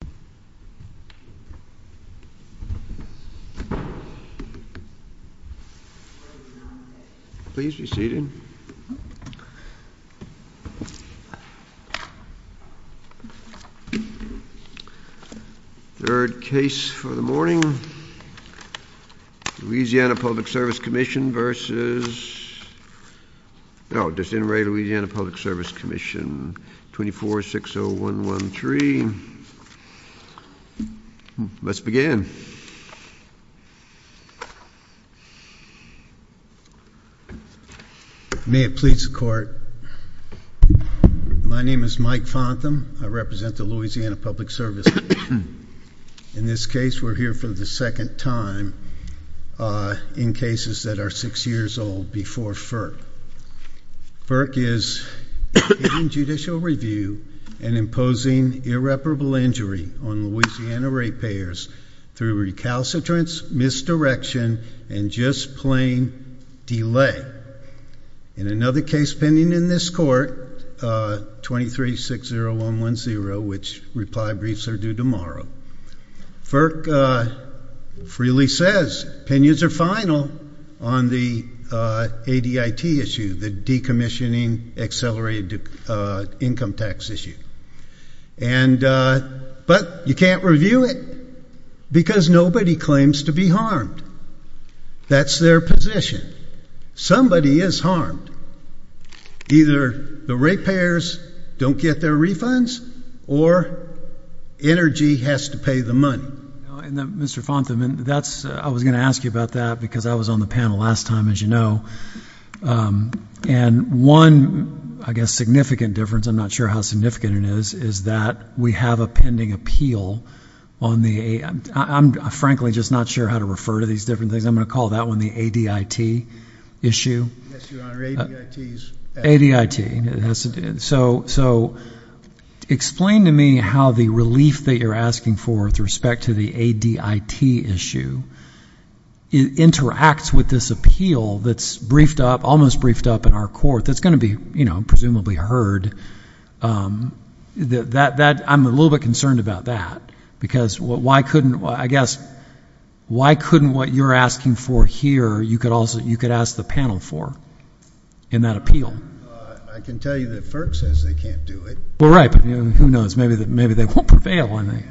2460113, LA Pub Svc Comm, 2460113, LA Pub Svc Comm, 2460113, LA Pub Svc Comm, 2460113, Let's begin. May it please the Court. My name is Mike Fontham. I represent the Louisiana Public Service. In this case, we're here for the second time in cases that are six years old before FERC. FERC is in judicial review and imposing irreparable injury on Louisiana ratepayers through recalcitrance, misdirection, and just plain delay. In another case pending in this court, 2360110, which reply briefs are due tomorrow, FERC freely says opinions are final on the ADIT issue, the Decommissioning Accelerated Income Tax issue. But you can't review it because nobody claims to be harmed. That's their position. Somebody is harmed. Either the ratepayers don't get their refunds or energy has to pay the money. Mr. Fontham, I was going to ask you about that because I was on the panel last time, as you know. And one, I guess, significant difference, I'm not sure how significant it is, is that we have a pending appeal on the, I'm frankly just not sure how to refer to these different things. I'm going to call that one the ADIT issue. ADIT. ADIT. So, explain to me how the relief that you're asking for with respect to the ADIT issue interacts with this appeal that's briefed up, almost briefed up in our court, that's going to be, you know, presumably heard. I'm a little bit concerned about that because why couldn't, I guess, why couldn't what you're asking for here, you could ask the panel for in that appeal? I can tell you that FERC says they can't do it. Well, right, but who knows? Maybe they won't prevail on it.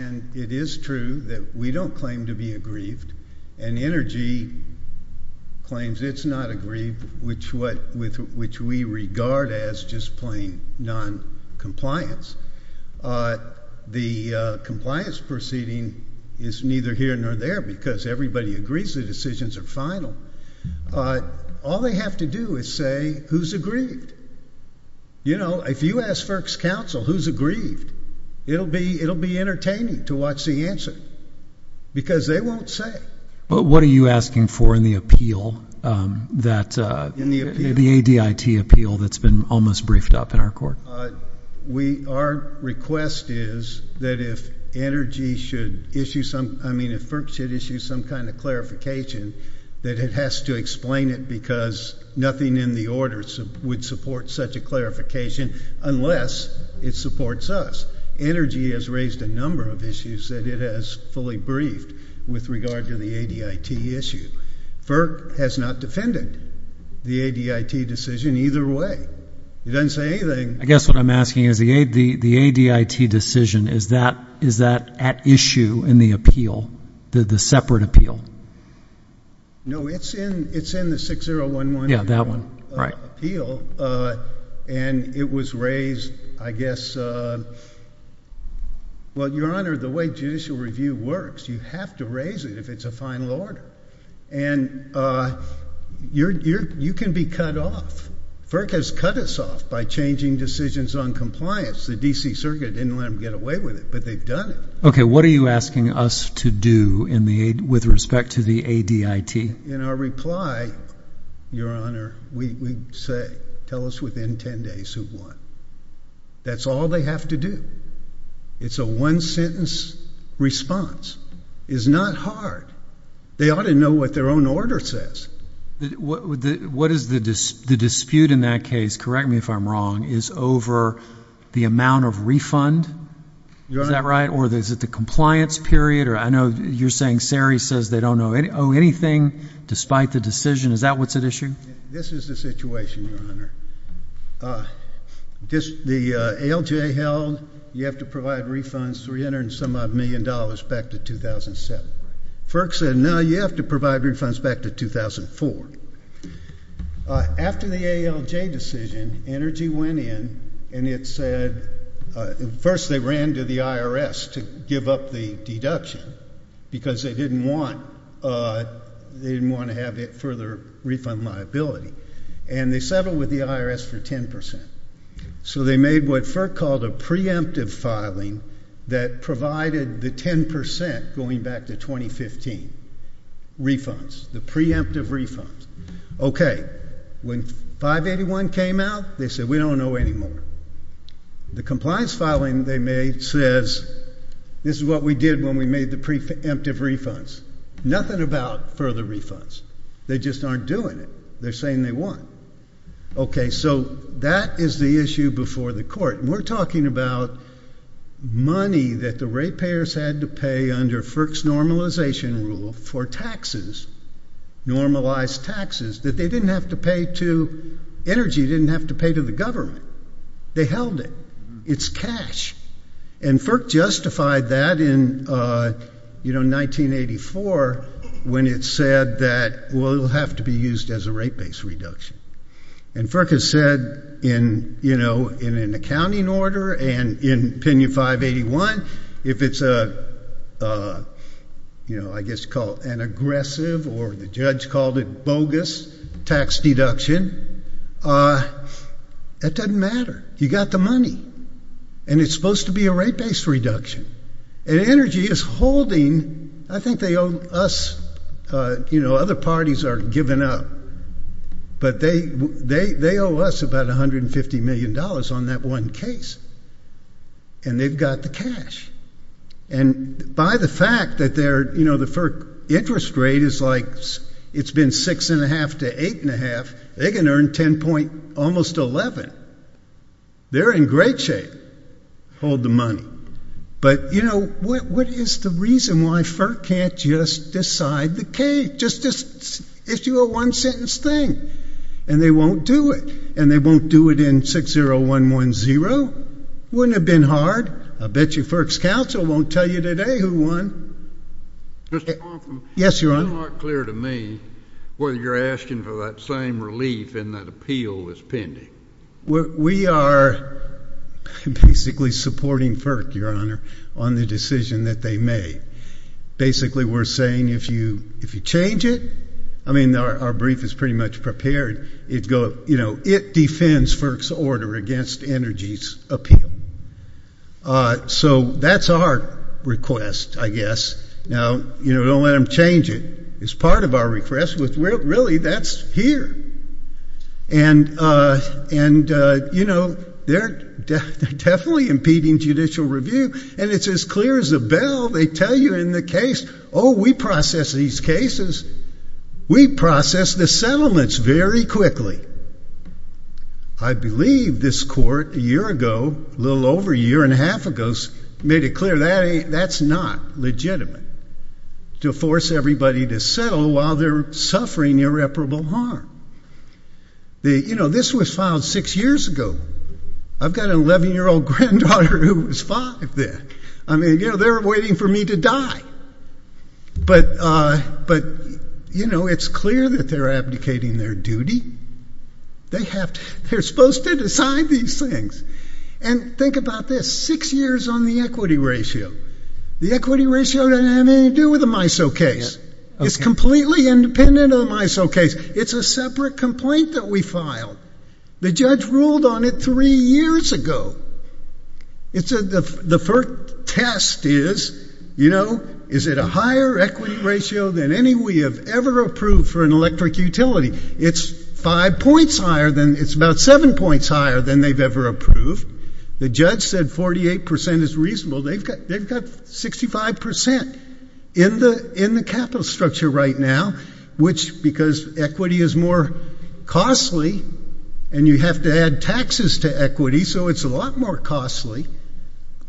And it is true that we don't claim to be aggrieved, and Energy claims it's not aggrieved, which we regard as just plain noncompliance. The compliance proceeding is neither here nor there because everybody agrees the decisions are final. All they have to do is say, who's aggrieved? You know, if you ask FERC's counsel who's aggrieved, it'll be entertaining to watch the answer because they won't say. But what are you asking for in the appeal that, the ADIT appeal that's been almost briefed up in our court? Our request is that if Energy should issue some, I mean, if FERC should issue some kind of clarification, that it has to explain it because nothing in the order would support such a clarification unless it supports us. Energy has raised a number of issues that it has fully briefed with regard to the ADIT issue. FERC has not defended the ADIT decision either way. It doesn't say anything. I guess what I'm asking is the ADIT decision, is that at issue in the appeal, the separate appeal? No, it's in the 6011 appeal, and it was raised, I guess, well, Your Honor, the way judicial review works, you have to raise it if it's a final order. And you can be cut off. FERC has cut us off by changing decisions on compliance. The D.C. Circuit didn't let them get away with it, but they've done it. Okay, what are you asking us to do in the, with respect to the ADIT? In our reply, Your Honor, we say, tell us within 10 days who won. That's all they have to do. It's a one-sentence response. It's not hard. They ought to know what their own order says. What is the dispute in that case, correct me if I'm wrong, is over the amount of refund? Is that right? Or is it the compliance period? Or I know you're saying Sari says they don't owe anything despite the decision. Is that what's at issue? This is the situation, Your Honor. The ALJ held you have to provide refunds $300 and some odd million dollars back to 2007. FERC said, no, you have to provide refunds back to 2004. After the ALJ decision, Energy went in and it said, first they ran to the IRS to give up the deduction because they didn't want, they didn't want to have further refund liability. And they settled with the IRS for 10%. So they made what FERC called a preemptive filing that provided the 10% going back to 2015, refunds, the preemptive refunds. Okay. When 581 came out, they said, we don't owe anymore. The compliance filing they made says, this is what we did when we made the preemptive refunds. Nothing about further refunds. They just aren't doing it. They're saying they won. Okay. So that is the issue before the court. And we're talking about money that the ratepayers had to pay under FERC's normalization rule for taxes, normalized taxes, that they didn't have to pay to Energy, didn't have to pay to the government. They held it. It's cash. And FERC justified that in, you know, 1984 when it said that, well, it will have to be used as a rate-based reduction. And FERC has said in, you know, in an accounting order and in opinion 581, if it's a, you know, I guess you call it an aggressive or the judge called it bogus tax deduction, that doesn't matter. You got the money. And it's supposed to be a rate-based reduction. And Energy is holding. I think they owe us, you know, other parties are giving up. But they owe us about $150 million on that one case. And they've got the cash. And by the fact that their, you know, the FERC interest rate is like it's been 6.5 to 8.5, they can earn 10. almost 11. They're in great shape. Hold the money. But, you know, what is the reason why FERC can't just decide the case? Just issue a one-sentence thing. And they won't do it. And they won't do it in 60110. Wouldn't it have been hard? I bet you FERC's counsel won't tell you today who won. Yes, Your Honor. It's not clear to me whether you're asking for that same relief and that appeal is pending. We are basically supporting FERC, Your Honor, on the decision that they made. Basically, we're saying if you change it, I mean, our brief is pretty much prepared. You know, it defends FERC's order against Energy's appeal. So that's our request, I guess. Now, you know, don't let them change it. It's part of our request. Really, that's here. And, you know, they're definitely impeding judicial review. And it's as clear as a bell. They tell you in the case, oh, we process these cases. We process the settlements very quickly. I believe this court a year ago, a little over a year and a half ago, made it clear that's not legitimate to force everybody to settle while they're suffering irreparable harm. You know, this was filed six years ago. I've got an 11-year-old granddaughter who was five then. I mean, you know, they're waiting for me to die. But, you know, it's clear that they're abdicating their duty. They're supposed to decide these things. And think about this, six years on the equity ratio. The equity ratio doesn't have anything to do with the MISO case. It's completely independent of the MISO case. It's a separate complaint that we filed. The judge ruled on it three years ago. The first test is, you know, is it a higher equity ratio than any we have ever approved for an electric utility? It's five points higher than, it's about seven points higher than they've ever approved. The judge said 48 percent is reasonable. They've got 65 percent in the capital structure right now, which, because equity is more costly and you have to add taxes to equity, so it's a lot more costly,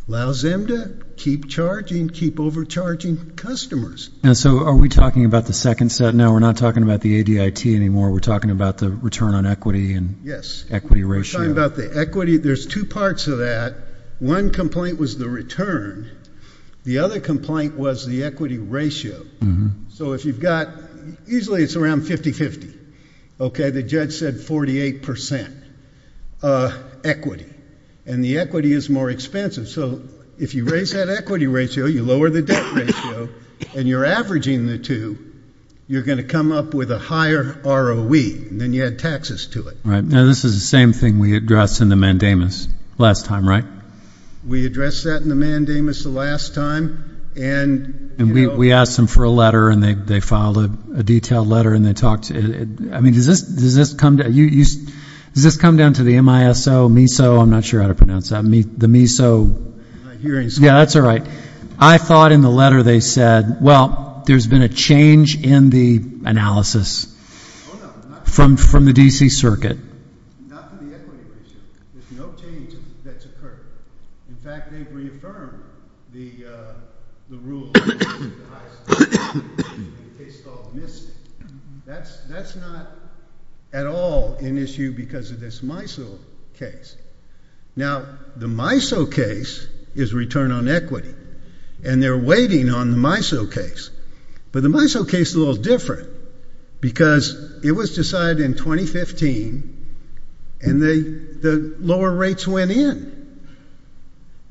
allows them to keep charging, keep overcharging customers. So are we talking about the second set now? We're not talking about the ADIT anymore. We're talking about the return on equity and equity ratio. We're talking about the equity. There's two parts of that. One complaint was the return. The other complaint was the equity ratio. So if you've got, usually it's around 50-50, okay? The judge said 48 percent equity, and the equity is more expensive. So if you raise that equity ratio, you lower the debt ratio, and you're averaging the two, you're going to come up with a higher ROE than you add taxes to it. All right. Now, this is the same thing we addressed in the mandamus last time, right? We addressed that in the mandamus the last time. And we asked them for a letter, and they filed a detailed letter, and they talked. I mean, does this come down to the MISO, MISO, I'm not sure how to pronounce that, the MISO? I'm not hearing so well. Yeah, that's all right. I thought in the letter they said, well, there's been a change in the analysis from the D.C. Circuit. Not from the equity ratio. There's no change that's occurred. In fact, they've reaffirmed the rule in the case called MISC. That's not at all an issue because of this MISO case. Now, the MISO case is return on equity, and they're waiting on the MISO case. But the MISO case is a little different because it was decided in 2015, and the lower rates went in.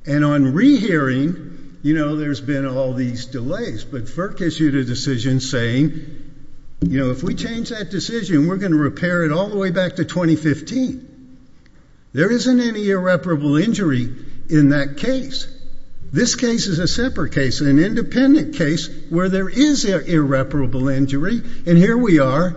And on rehearing, you know, there's been all these delays. But FERC issued a decision saying, you know, if we change that decision, we're going to repair it all the way back to 2015. There isn't any irreparable injury in that case. This case is a separate case, an independent case, where there is irreparable injury. And here we are,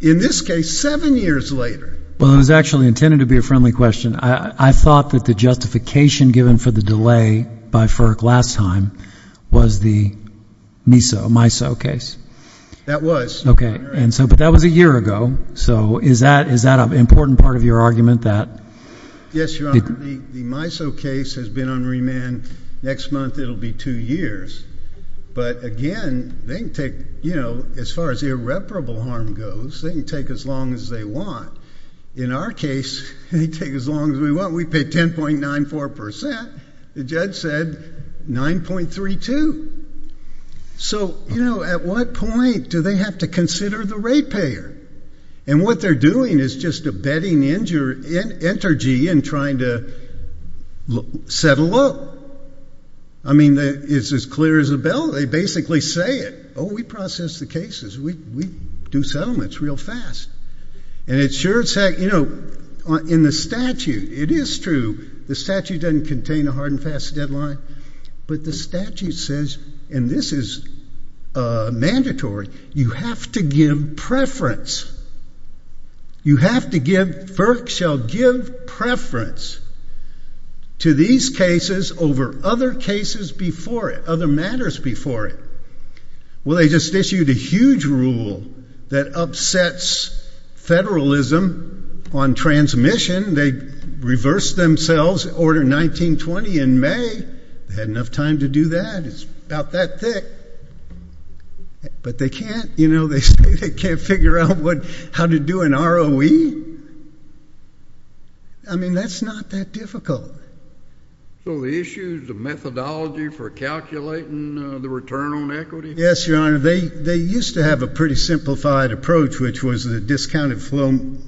in this case, seven years later. Well, it was actually intended to be a friendly question. I thought that the justification given for the delay by FERC last time was the MISO case. That was. Okay. But that was a year ago. So is that an important part of your argument? Yes, Your Honor. The MISO case has been on remand. Next month, it will be two years. But, again, they can take, you know, as far as irreparable harm goes, they can take as long as they want. In our case, they can take as long as they want. We paid 10.94%. The judge said 9.32%. So, you know, at what point do they have to consider the rate payer? And what they're doing is just abetting energy in trying to settle up. I mean, it's as clear as a bell. They basically say it. Oh, we process the cases. We do settlements real fast. And it sure is. You know, in the statute, it is true. The statute doesn't contain a hard and fast deadline. But the statute says, and this is mandatory, you have to give preference. You have to give, FERC shall give preference to these cases over other cases before it, other matters before it. Well, they just issued a huge rule that upsets federalism on transmission. They reversed themselves, Order 1920 in May. They had enough time to do that. It's about that thick. But they can't, you know, they say they can't figure out how to do an ROE. I mean, that's not that difficult. So the issue is the methodology for calculating the return on equity? Yes, Your Honor. They used to have a pretty simplified approach, which was a discounted something,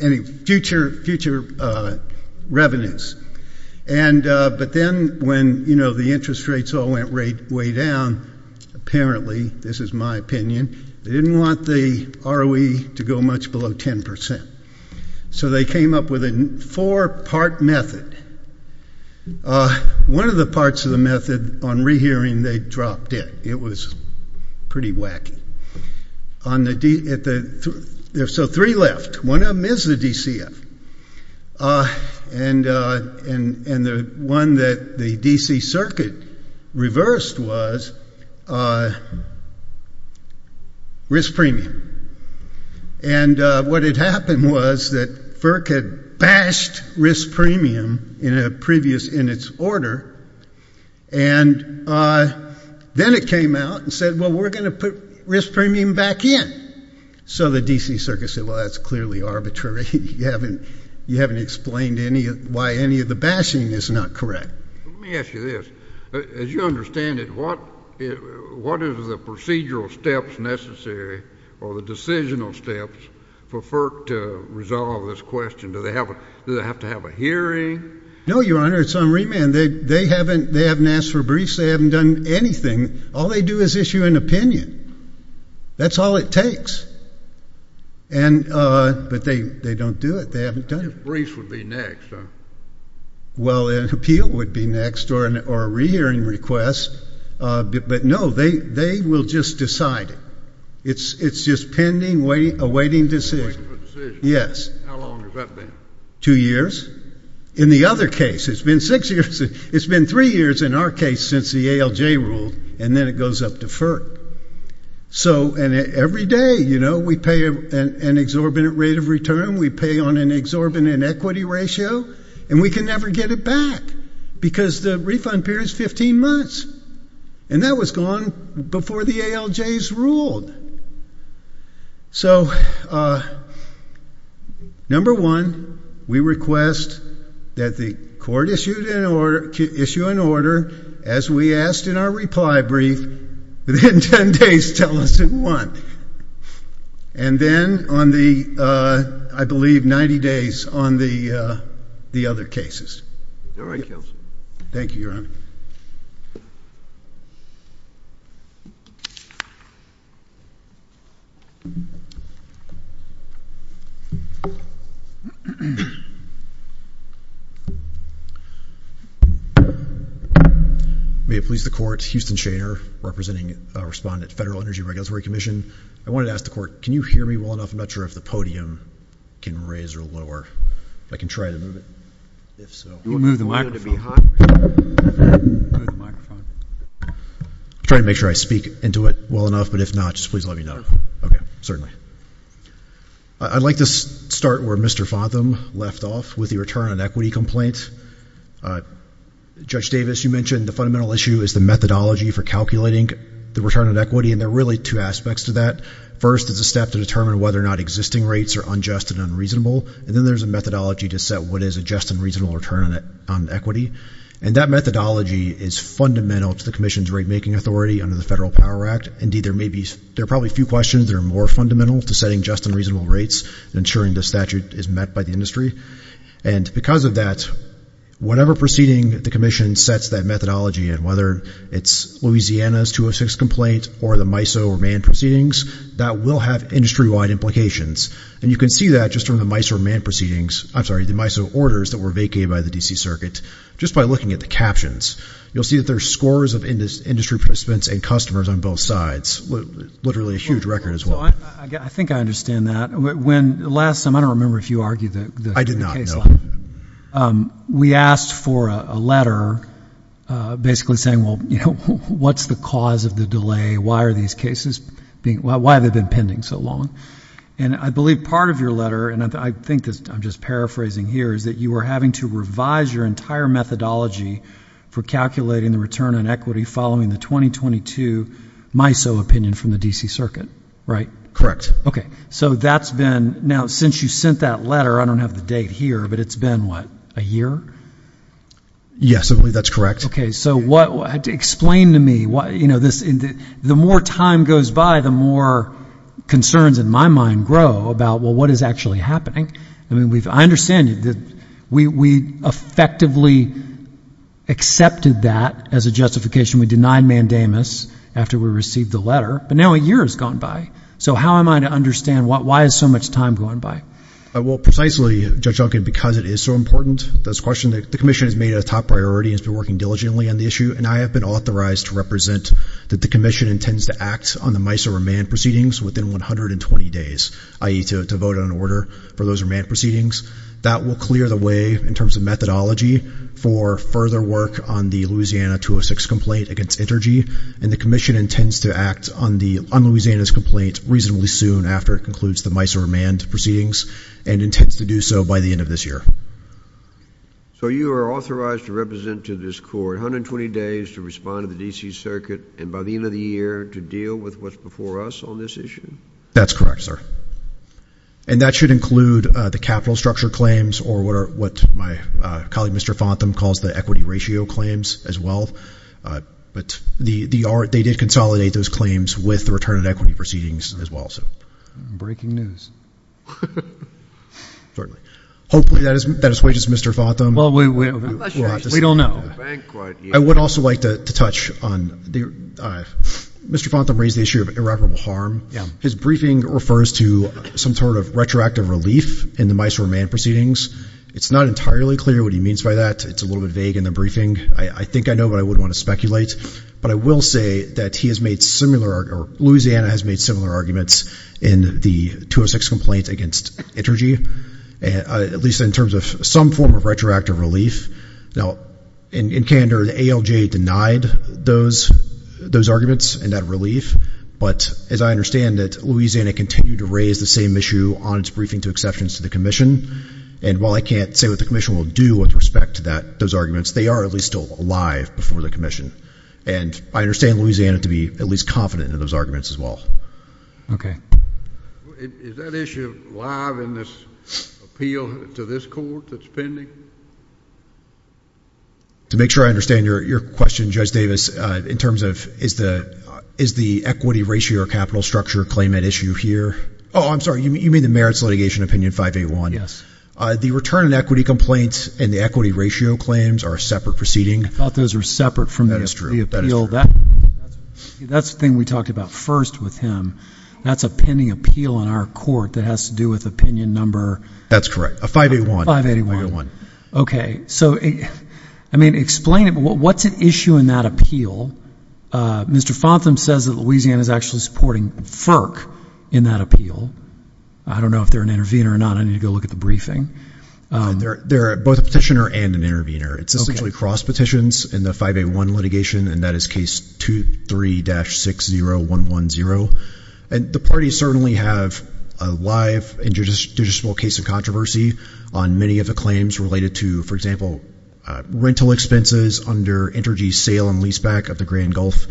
any future revenues. But then when, you know, the interest rates all went way down, apparently, this is my opinion, they didn't want the ROE to go much below 10%. So they came up with a four-part method. One of the parts of the method on rehearing, they dropped it. It was pretty wacky. So three left. One of them is the DCF. And the one that the DC circuit reversed was risk premium. And what had happened was that FERC had bashed risk premium in a previous in its order. And then it came out and said, well, we're going to put risk premium back in. So the DC circuit said, well, that's clearly arbitrary. You haven't explained why any of the bashing is not correct. Let me ask you this. As you understand it, what is the procedural steps necessary or the decisional steps for FERC to resolve this question? Do they have to have a hearing? No, Your Honor. It's on remand. They haven't asked for briefs. They haven't done anything. All they do is issue an opinion. That's all it takes. But they don't do it. They haven't done it. Briefs would be next. Well, an appeal would be next or a rehearing request. But, no, they will just decide it. It's just pending, awaiting decision. Yes. How long has that been? Two years. In the other case, it's been six years. It's been three years in our case since the ALJ ruled, and then it goes up to FERC. And every day, we pay an exorbitant rate of return. We pay on an exorbitant equity ratio. And we can never get it back because the refund period is 15 months. And that was gone before the ALJs ruled. So, number one, we request that the court issue an order, as we asked in our reply brief, within 10 days, tell us in what. And then on the, I believe, 90 days on the other cases. All right, counsel. Thank you, Your Honor. May it please the court, Houston Shaner, representing respondent Federal Energy Regulatory Commission. I wanted to ask the court, can you hear me well enough? I'm not sure if the podium can raise or lower. If I can try to move it. If so. You can move the microphone. Move the microphone. I'm trying to make sure I speak into it well enough. But if not, just please let me know. Okay, certainly. I'd like to start where Mr. Fotham left off with the return on equity complaint. Judge Davis, you mentioned the fundamental issue is the methodology for calculating the return on equity. And there are really two aspects to that. First, it's a step to determine whether or not existing rates are unjust and unreasonable. And then there's a methodology to set what is a just and reasonable return on equity. And that methodology is fundamental to the commission's rate-making authority under the Federal Power Act. Indeed, there are probably a few questions that are more fundamental to setting just and reasonable rates and ensuring the statute is met by the industry. And because of that, whatever proceeding the commission sets that methodology in, whether it's Louisiana's 206 complaint or the MISO or MAND proceedings, that will have industry-wide implications. And you can see that just from the MISO or MAND proceedings. I'm sorry, the MISO orders that were vacated by the D.C. Circuit. Just by looking at the captions, you'll see that there are scores of industry participants and customers on both sides, literally a huge record as well. I think I understand that. Last time, I don't remember if you argued the case law. I did not, no. We asked for a letter basically saying, well, what's the cause of the delay? Why have they been pending so long? And I believe part of your letter, and I think I'm just paraphrasing here, is that you were having to revise your entire methodology for calculating the return on equity following the 2022 MISO opinion from the D.C. Circuit, right? Okay. So that's been now since you sent that letter, I don't have the date here, but it's been what, a year? Yes, I believe that's correct. So explain to me, you know, the more time goes by, the more concerns in my mind grow about, well, what is actually happening? I mean, I understand that we effectively accepted that as a justification. We denied mandamus after we received the letter, but now a year has gone by. So how am I to understand why is so much time gone by? Well, precisely, Judge Duncan, because it is so important, this question, the Commission has made it a top priority and has been working diligently on the issue, and I have been authorized to represent that the Commission intends to act on the MISO remand proceedings within 120 days, i.e. to vote on an order for those remand proceedings. That will clear the way in terms of methodology for further work on the Louisiana 206 complaint against Intergy, and the Commission intends to act on Louisiana's complaint reasonably soon after it concludes the MISO remand proceedings and intends to do so by the end of this year. So you are authorized to represent to this Court 120 days to respond to the D.C. Circuit and by the end of the year to deal with what's before us on this issue? That's correct, sir. And that should include the capital structure claims or what my colleague, Mr. Fontham, calls the equity ratio claims as well. But they did consolidate those claims with the return of equity proceedings as well. Breaking news. Certainly. Hopefully that is the way, Mr. Fontham. Well, we don't know. I would also like to touch on Mr. Fontham raised the issue of irreparable harm. His briefing refers to some sort of retroactive relief in the MISO remand proceedings. It's not entirely clear what he means by that. It's a little bit vague in the briefing. I think I know, but I wouldn't want to speculate. But I will say that he has made similar or Louisiana has made similar arguments in the 206 complaint against Intergy, at least in terms of some form of retroactive relief. Now, in candor, the ALJ denied those arguments and that relief. But as I understand it, Louisiana continued to raise the same issue on its briefing to exceptions to the commission. And while I can't say what the commission will do with respect to those arguments, they are at least still alive before the commission. And I understand Louisiana to be at least confident in those arguments as well. Okay. Is that issue live in this appeal to this court that's pending? To make sure I understand your question, Judge Davis, in terms of is the equity ratio or capital structure claim at issue here? Oh, I'm sorry, you mean the merits litigation opinion 581? Yes. The return and equity complaints and the equity ratio claims are a separate proceeding? I thought those were separate from the appeal. That's the thing we talked about first with him. That's a pending appeal in our court that has to do with opinion number? That's correct. 581. Okay. So, I mean, explain it. What's at issue in that appeal? Mr. Fontham says that Louisiana is actually supporting FERC in that appeal. I don't know if they're an intervener or not. I need to go look at the briefing. They're both a petitioner and an intervener. It's essentially cross petitions in the 581 litigation, and that is case 23-60110. And the parties certainly have a live and judiciable case of controversy on many of the claims related to, for example, rental expenses under energy sale and leaseback of the Grand Gulf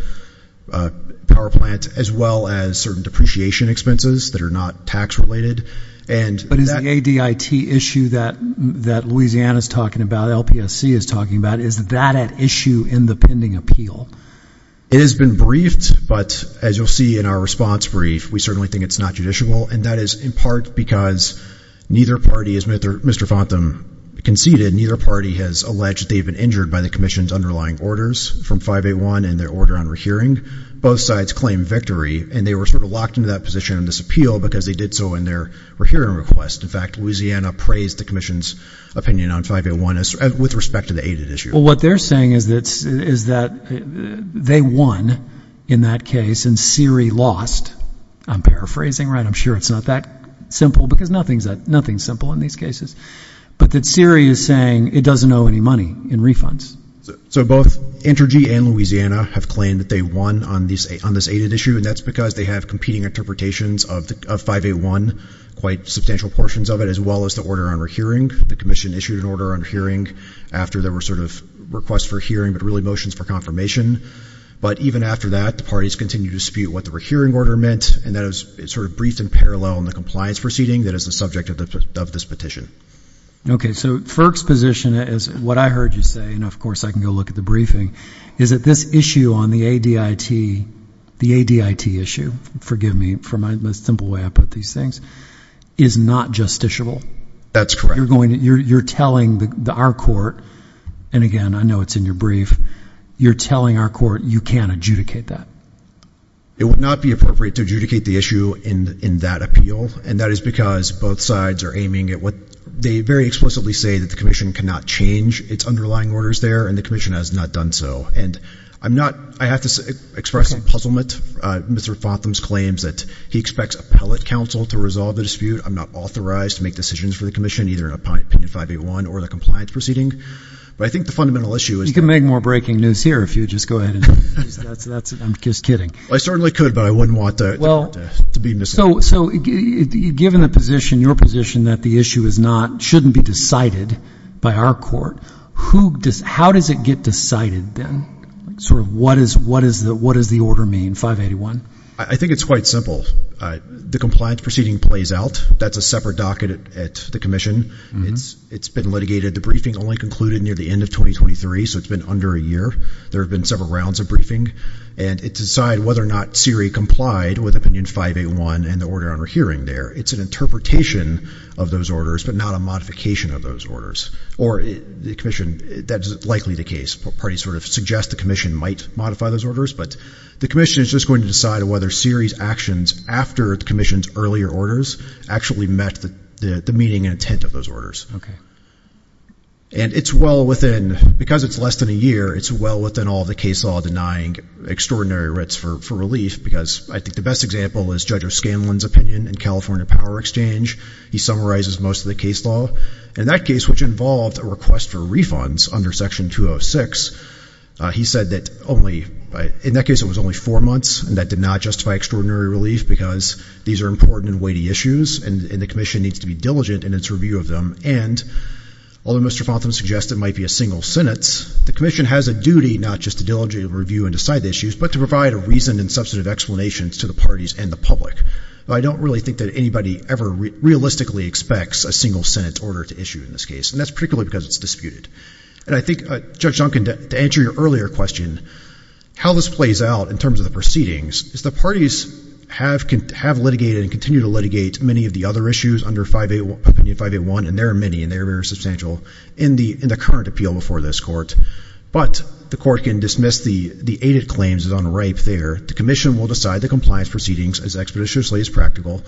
Power Plant, as well as certain depreciation expenses that are not tax-related. But is the ADIT issue that Louisiana is talking about, LPSC is talking about, is that at issue in the pending appeal? It has been briefed, but as you'll see in our response brief, we certainly think it's not judicial, and that is in part because neither party, as Mr. Fontham conceded, neither party has alleged that they've been injured by the commission's underlying orders from 581 and their order on rehearing. Both sides claim victory, and they were sort of locked into that position in this appeal because they did so in their rehearing request. In fact, Louisiana praised the commission's opinion on 581 with respect to the ADIT issue. Well, what they're saying is that they won in that case, and Siri lost. I'm paraphrasing, right? I'm sure it's not that simple because nothing's simple in these cases. But that Siri is saying it doesn't owe any money in refunds. So both Intergy and Louisiana have claimed that they won on this ADIT issue, and that's because they have competing interpretations of 581, quite substantial portions of it, as well as the order on rehearing. The commission issued an order on hearing after there were sort of requests for hearing, but really motions for confirmation. But even after that, the parties continue to dispute what the rehearing order meant, and that is sort of briefed in parallel in the compliance proceeding that is the subject of this petition. Okay, so Firk's position is what I heard you say, and of course I can go look at the briefing, is that this issue on the ADIT issue, forgive me for the simple way I put these things, is not justiciable. That's correct. You're telling our court, and again, I know it's in your brief, you're telling our court you can't adjudicate that. It would not be appropriate to adjudicate the issue in that appeal, and that is because both sides are aiming at what they very explicitly say, that the commission cannot change its underlying orders there, and the commission has not done so. And I have to express some puzzlement. Mr. Fotham's claims that he expects appellate counsel to resolve the dispute. I'm not authorized to make decisions for the commission, either in opinion 581 or the compliance proceeding. But I think the fundamental issue is that you can make more breaking news here if you just go ahead. I'm just kidding. I certainly could, but I wouldn't want to be misled. So given your position that the issue shouldn't be decided by our court, how does it get decided then? What does the order mean, 581? I think it's quite simple. The compliance proceeding plays out. That's a separate docket at the commission. It's been litigated. The briefing only concluded near the end of 2023, so it's been under a year. There have been several rounds of briefing. And it's decided whether or not Siri complied with opinion 581 and the order under hearing there. It's an interpretation of those orders, but not a modification of those orders. Or the commission, that is likely the case. Parties sort of suggest the commission might modify those orders. But the commission is just going to decide whether Siri's actions after the commission's earlier orders actually met the meaning and intent of those orders. Okay. And it's well within, because it's less than a year, it's well within all the case law denying extraordinary writs for relief. Because I think the best example is Judge O'Scanlan's opinion in California Power Exchange. He summarizes most of the case law. In that case, which involved a request for refunds under Section 206, he said that only, in that case it was only four months. And that did not justify extraordinary relief because these are important and weighty issues. And the commission needs to be diligent in its review of them. And although Mr. Fonten suggests it might be a single sentence, the commission has a duty not just to diligently review and decide the issues, but to provide a reason and substantive explanations to the parties and the public. I don't really think that anybody ever realistically expects a single sentence order to issue in this case. And that's particularly because it's disputed. And I think, Judge Duncan, to answer your earlier question, how this plays out in terms of the proceedings is the parties have litigated and continue to litigate many of the other issues under opinion 581, and there are many, and they are very substantial in the current appeal before this court. But the court can dismiss the aided claims as unripe there. The commission will decide the compliance proceedings as expeditiously as practical.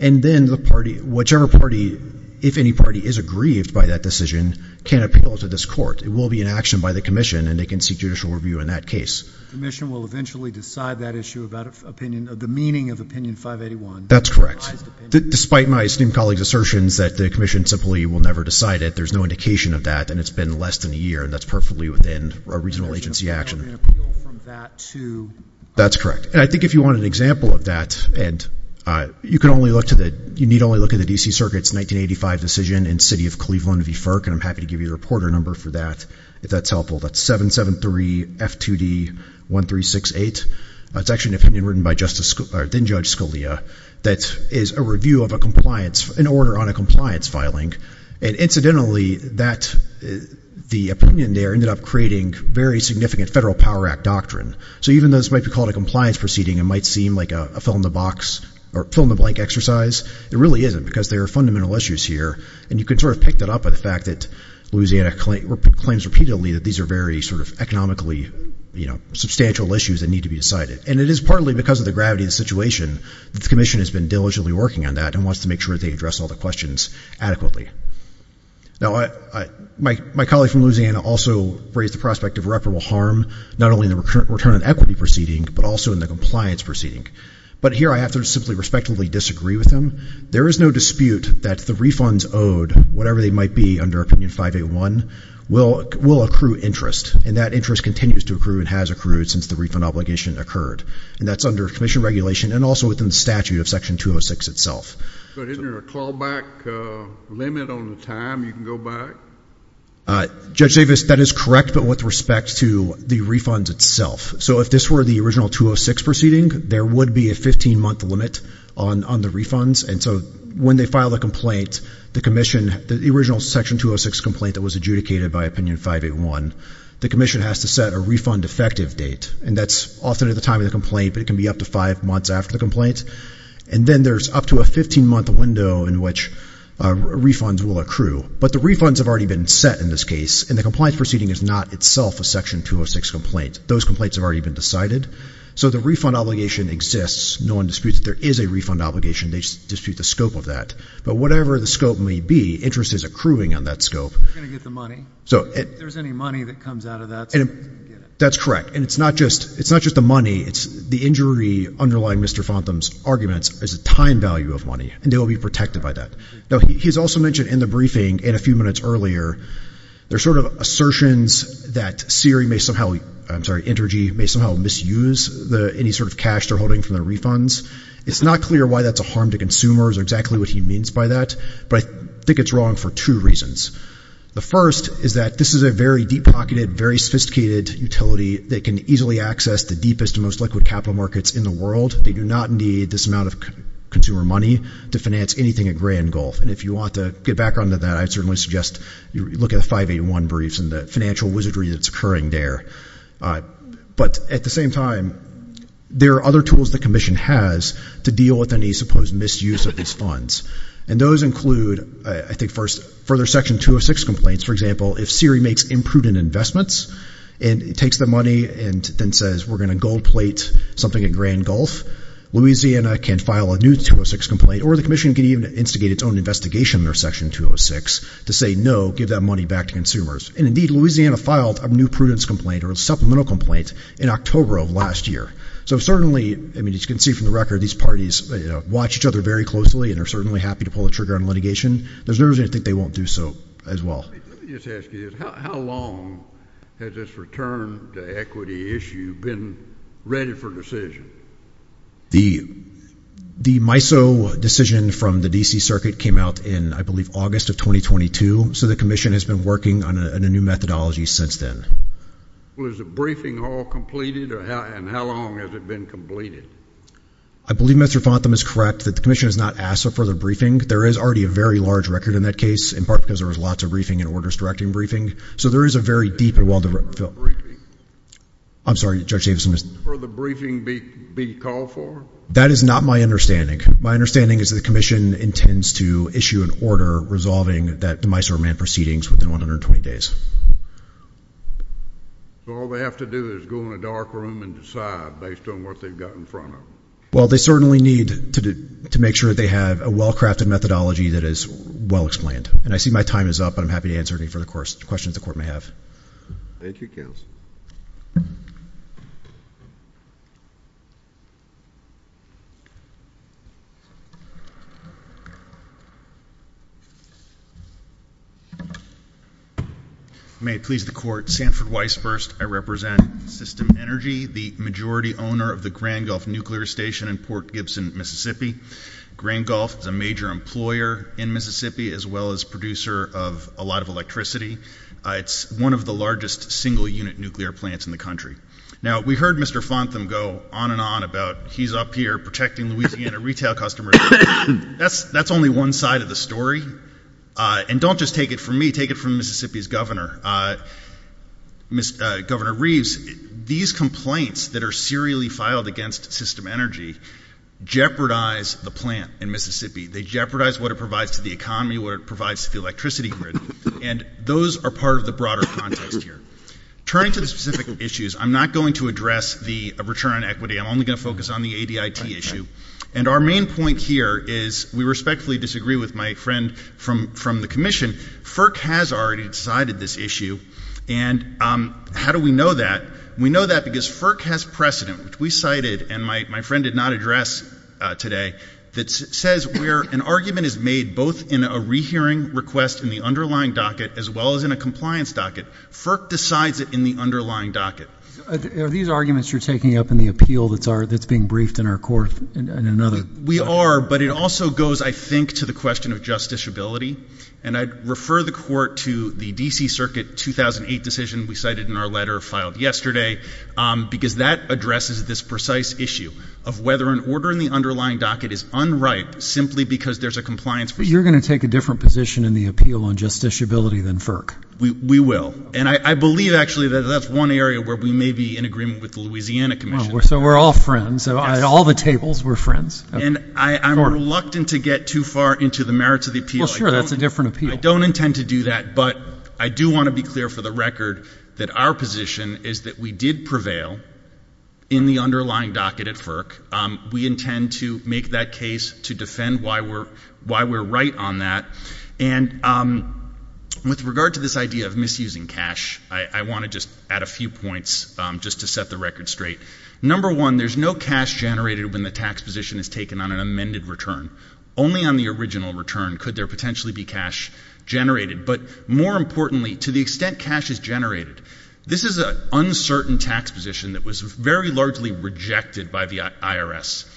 And then the party, whichever party, if any party is aggrieved by that decision, can appeal to this court. It will be an action by the commission, and they can seek judicial review in that case. The commission will eventually decide that issue about opinion, the meaning of opinion 581. That's correct. Despite my esteemed colleague's assertions that the commission simply will never decide it, there's no indication of that, and it's been less than a year, and that's perfectly within a regional agency action. And there's an appeal from that to? That's correct. And I think if you want an example of that, Ed, you can only look to the, you need only look at the D.C. Circuit's 1985 decision in the city of Cleveland v. Ferk, and I'm happy to give you the reporter number for that if that's helpful. That's 773-F2D-1368. It's actually an opinion written by then-Judge Scalia that is a review of a compliance, an order on a compliance filing. And incidentally, the opinion there ended up creating very significant federal power act doctrine. So even though this might be called a compliance proceeding, it might seem like a fill-in-the-blank exercise, it really isn't because there are fundamental issues here. And you can sort of pick that up by the fact that Louisiana claims repeatedly that these are very sort of economically, you know, substantial issues that need to be decided. And it is partly because of the gravity of the situation that the commission has been diligently working on that and wants to make sure they address all the questions adequately. Now, my colleague from Louisiana also raised the prospect of irreparable harm, not only in the return on equity proceeding, but also in the compliance proceeding. But here I have to simply respectfully disagree with him. There is no dispute that the refunds owed, whatever they might be under Opinion 581, will accrue interest. And that interest continues to accrue and has accrued since the refund obligation occurred. And that's under commission regulation and also within the statute of Section 206 itself. But isn't there a callback limit on the time you can go back? Judge Davis, that is correct, but with respect to the refunds itself. So if this were the original 206 proceeding, there would be a 15-month limit on the refunds. And so when they file a complaint, the commission, the original Section 206 complaint that was adjudicated by Opinion 581, the commission has to set a refund effective date. And that's often at the time of the complaint, but it can be up to five months after the complaint. And then there's up to a 15-month window in which refunds will accrue. But the refunds have already been set in this case, and the compliance proceeding is not itself a Section 206 complaint. Those complaints have already been decided. So the refund obligation exists. No one disputes that there is a refund obligation. They just dispute the scope of that. But whatever the scope may be, interest is accruing on that scope. They're going to get the money. If there's any money that comes out of that, they're going to get it. That's correct. And it's not just the money. The injury underlying Mr. Fontham's arguments is a time value of money, and they will be protected by that. Now, he's also mentioned in the briefing and a few minutes earlier, there's sort of assertions that SERE may somehow, I'm sorry, Intergy may somehow misuse any sort of cash they're holding from their refunds. It's not clear why that's a harm to consumers or exactly what he means by that. But I think it's wrong for two reasons. The first is that this is a very deep-pocketed, very sophisticated utility that can easily access the deepest and most liquid capital markets in the world. They do not need this amount of consumer money to finance anything at Grand Gulf. And if you want to get back onto that, I'd certainly suggest you look at the 581 briefs and the financial wizardry that's occurring there. But at the same time, there are other tools the Commission has to deal with any supposed misuse of these funds. And those include, I think, further Section 206 complaints. For example, if SERE makes imprudent investments and it takes the money and then says we're going to gold plate something at Grand Gulf, Louisiana can file a new 206 complaint or the Commission can even instigate its own investigation under Section 206 to say, no, give that money back to consumers. And, indeed, Louisiana filed a new prudence complaint or a supplemental complaint in October of last year. So certainly, I mean, as you can see from the record, these parties watch each other very closely and are certainly happy to pull the trigger on litigation. There's no reason to think they won't do so as well. Let me just ask you this. How long has this return to equity issue been ready for decision? The MISO decision from the D.C. Circuit came out in, I believe, August of 2022. So the Commission has been working on a new methodology since then. Well, is the briefing all completed? And how long has it been completed? I believe Mr. Fontham is correct that the Commission has not asked for the briefing. There is already a very large record in that case, in part because there was lots of briefing and orders directing briefing. So there is a very deep and well-developed. I'm sorry, Judge Davidson. Will the briefing be called for? That is not my understanding. My understanding is that the Commission intends to issue an order resolving that demise or remand proceedings within 120 days. So all they have to do is go in a dark room and decide based on what they've got in front of them. Well, they certainly need to make sure they have a well-crafted methodology that is well-explained. And I see my time is up. I'm happy to answer any further questions the Court may have. Thank you, Counsel. May it please the Court, Sanford Weisburst, I represent System Energy, the majority owner of the Grand Gulf Nuclear Station in Port Gibson, Mississippi. Grand Gulf is a major employer in Mississippi as well as producer of a lot of electricity. It's one of the largest single-unit nuclear plants in the country. Now, we heard Mr. Fontham go on and on about he's up here protecting Louisiana retail customers. That's only one side of the story. And don't just take it from me. Take it from Mississippi's governor, Governor Reeves. These complaints that are serially filed against System Energy jeopardize the plant in Mississippi. They jeopardize what it provides to the economy, what it provides to the electricity grid. And those are part of the broader context here. Turning to the specific issues, I'm not going to address the return on equity. I'm only going to focus on the ADIT issue. And our main point here is we respectfully disagree with my friend from the Commission. FERC has already decided this issue. And how do we know that? We know that because FERC has precedent, which we cited and my friend did not address today, that says where an argument is made both in a rehearing request in the underlying docket as well as in a compliance docket. FERC decides it in the underlying docket. Are these arguments you're taking up in the appeal that's being briefed in our court in another court? We are, but it also goes, I think, to the question of justiciability. And I'd refer the court to the D.C. Circuit 2008 decision we cited in our letter filed yesterday because that addresses this precise issue of whether an order in the underlying docket is unripe simply because there's a compliance. But you're going to take a different position in the appeal on justiciability than FERC. We will. And I believe, actually, that that's one area where we may be in agreement with the Louisiana Commission. So we're all friends. All the tables, we're friends. And I'm reluctant to get too far into the merits of the appeal. Well, sure, that's a different appeal. I don't intend to do that. But I do want to be clear for the record that our position is that we did prevail in the underlying docket at FERC. We intend to make that case to defend why we're right on that. And with regard to this idea of misusing cash, I want to just add a few points just to set the record straight. Number one, there's no cash generated when the tax position is taken on an amended return. Only on the original return could there potentially be cash generated. But more importantly, to the extent cash is generated, this is an uncertain tax position that was very largely rejected by the IRS.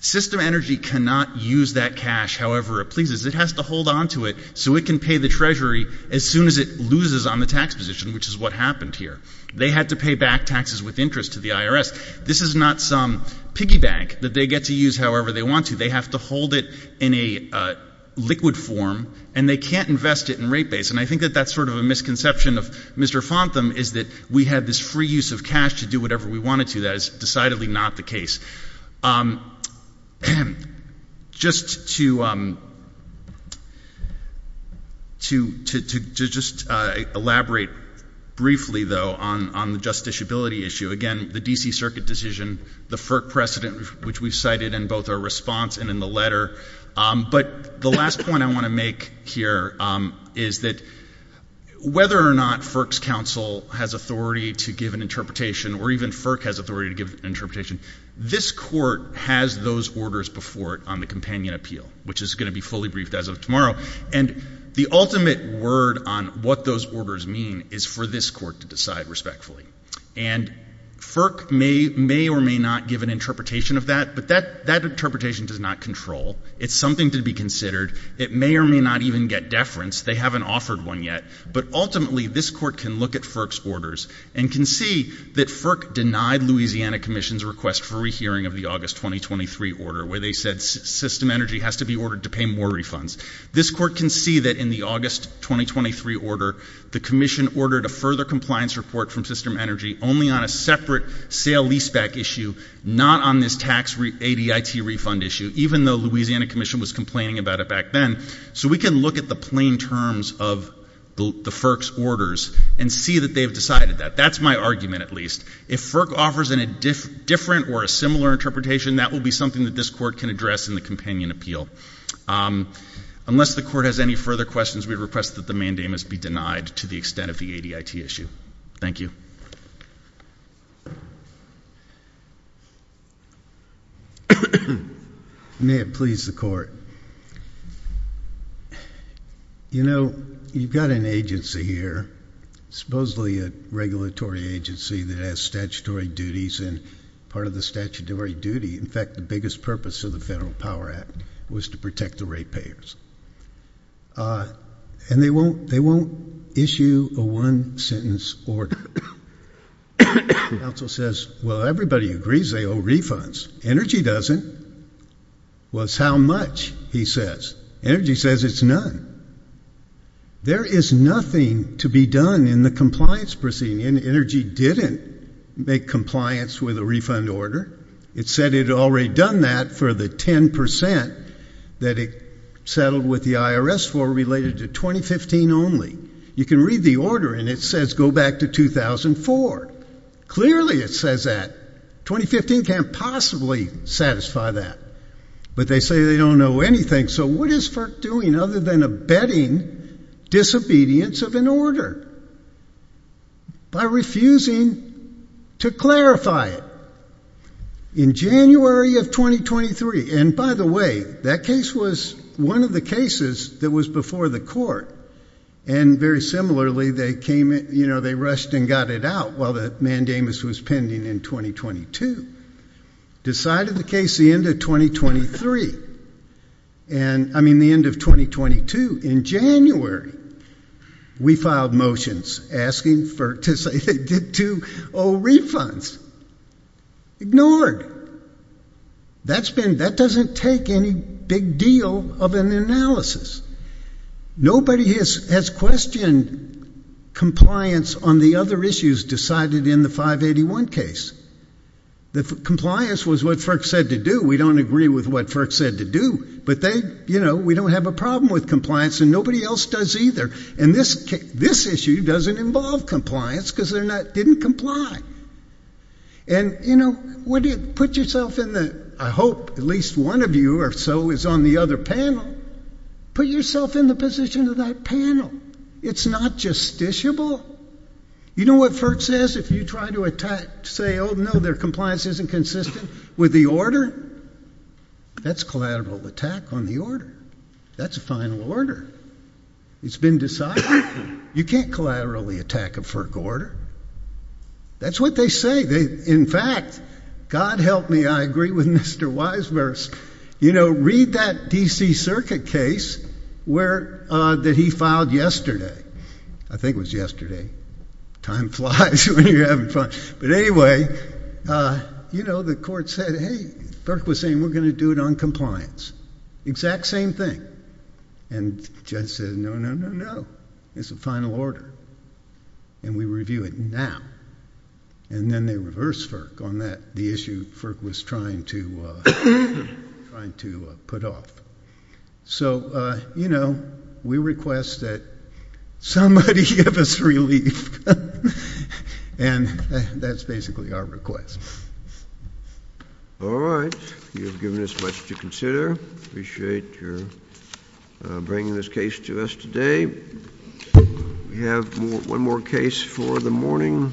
System Energy cannot use that cash however it pleases. It has to hold onto it so it can pay the Treasury as soon as it loses on the tax position, which is what happened here. They had to pay back taxes with interest to the IRS. This is not some piggy bank that they get to use however they want to. They have to hold it in a liquid form, and they can't invest it in rate base. And I think that that's sort of a misconception of Mr. Fontham is that we had this free use of cash to do whatever we wanted to. That is decidedly not the case. Just to just elaborate briefly, though, on the justiciability issue, again, the D.C. Circuit decision, the FERC precedent which we cited in both our response and in the letter. But the last point I want to make here is that whether or not FERC's counsel has authority to give an interpretation or even FERC has authority to give an interpretation, this Court has those orders before it on the companion appeal, which is going to be fully briefed as of tomorrow. And the ultimate word on what those orders mean is for this Court to decide respectfully. And FERC may or may not give an interpretation of that, but that interpretation does not control. It's something to be considered. It may or may not even get deference. They haven't offered one yet. But ultimately, this Court can look at FERC's orders and can see that FERC denied Louisiana Commission's request for a hearing of the August 2023 order where they said system energy has to be ordered to pay more refunds. This Court can see that in the August 2023 order, the Commission ordered a further compliance report from system energy only on a separate sale leaseback issue, not on this tax ADIT refund issue, even though Louisiana Commission was complaining about it back then. So we can look at the plain terms of the FERC's orders and see that they've decided that. That's my argument, at least. If FERC offers a different or a similar interpretation, that will be something that this Court can address in the companion appeal. Unless the Court has any further questions, we request that the mandate must be denied to the extent of the ADIT issue. Thank you. May it please the Court. You know, you've got an agency here, supposedly a regulatory agency that has statutory duties, and part of the statutory duty, in fact, the biggest purpose of the Federal Power Act, was to protect the ratepayers. And they won't issue a one-sentence order. The counsel says, well, everybody agrees they owe refunds. Energy doesn't. Well, it's how much, he says. Energy says it's none. There is nothing to be done in the compliance proceeding. Energy didn't make compliance with a refund order. It said it had already done that for the 10% that it settled with the IRS for related to 2015 only. You can read the order, and it says go back to 2004. Clearly it says that. 2015 can't possibly satisfy that. But they say they don't know anything. So what is FERC doing other than abetting disobedience of an order? By refusing to clarify it. In January of 2023. And, by the way, that case was one of the cases that was before the Court. And, very similarly, they rushed and got it out while the mandamus was pending in 2022. Decided the case the end of 2023. I mean the end of 2022. In January, we filed motions asking FERC to say they did 2-0 refunds. Ignored. That doesn't take any big deal of an analysis. Nobody has questioned compliance on the other issues decided in the 581 case. The compliance was what FERC said to do. We don't agree with what FERC said to do. But they, you know, we don't have a problem with compliance, and nobody else does either. And this issue doesn't involve compliance because they didn't comply. And, you know, put yourself in the, I hope at least one of you or so is on the other panel. Put yourself in the position of that panel. It's not justiciable. You know what FERC says if you try to say, oh, no, their compliance isn't consistent with the order? That's collateral attack on the order. That's a final order. It's been decided. You can't collaterally attack a FERC order. That's what they say. In fact, God help me, I agree with Mr. Wisemers. You know, read that D.C. Circuit case that he filed yesterday. I think it was yesterday. Time flies when you're having fun. But anyway, you know, the court said, hey, FERC was saying we're going to do it on compliance. Exact same thing. And the judge said, no, no, no, no. It's a final order. And we review it now. And then they reversed FERC on that, the issue FERC was trying to put off. So, you know, we request that somebody give us relief. And that's basically our request. All right. You've given us much to consider. Appreciate your bringing this case to us today. We have one more case for the morning.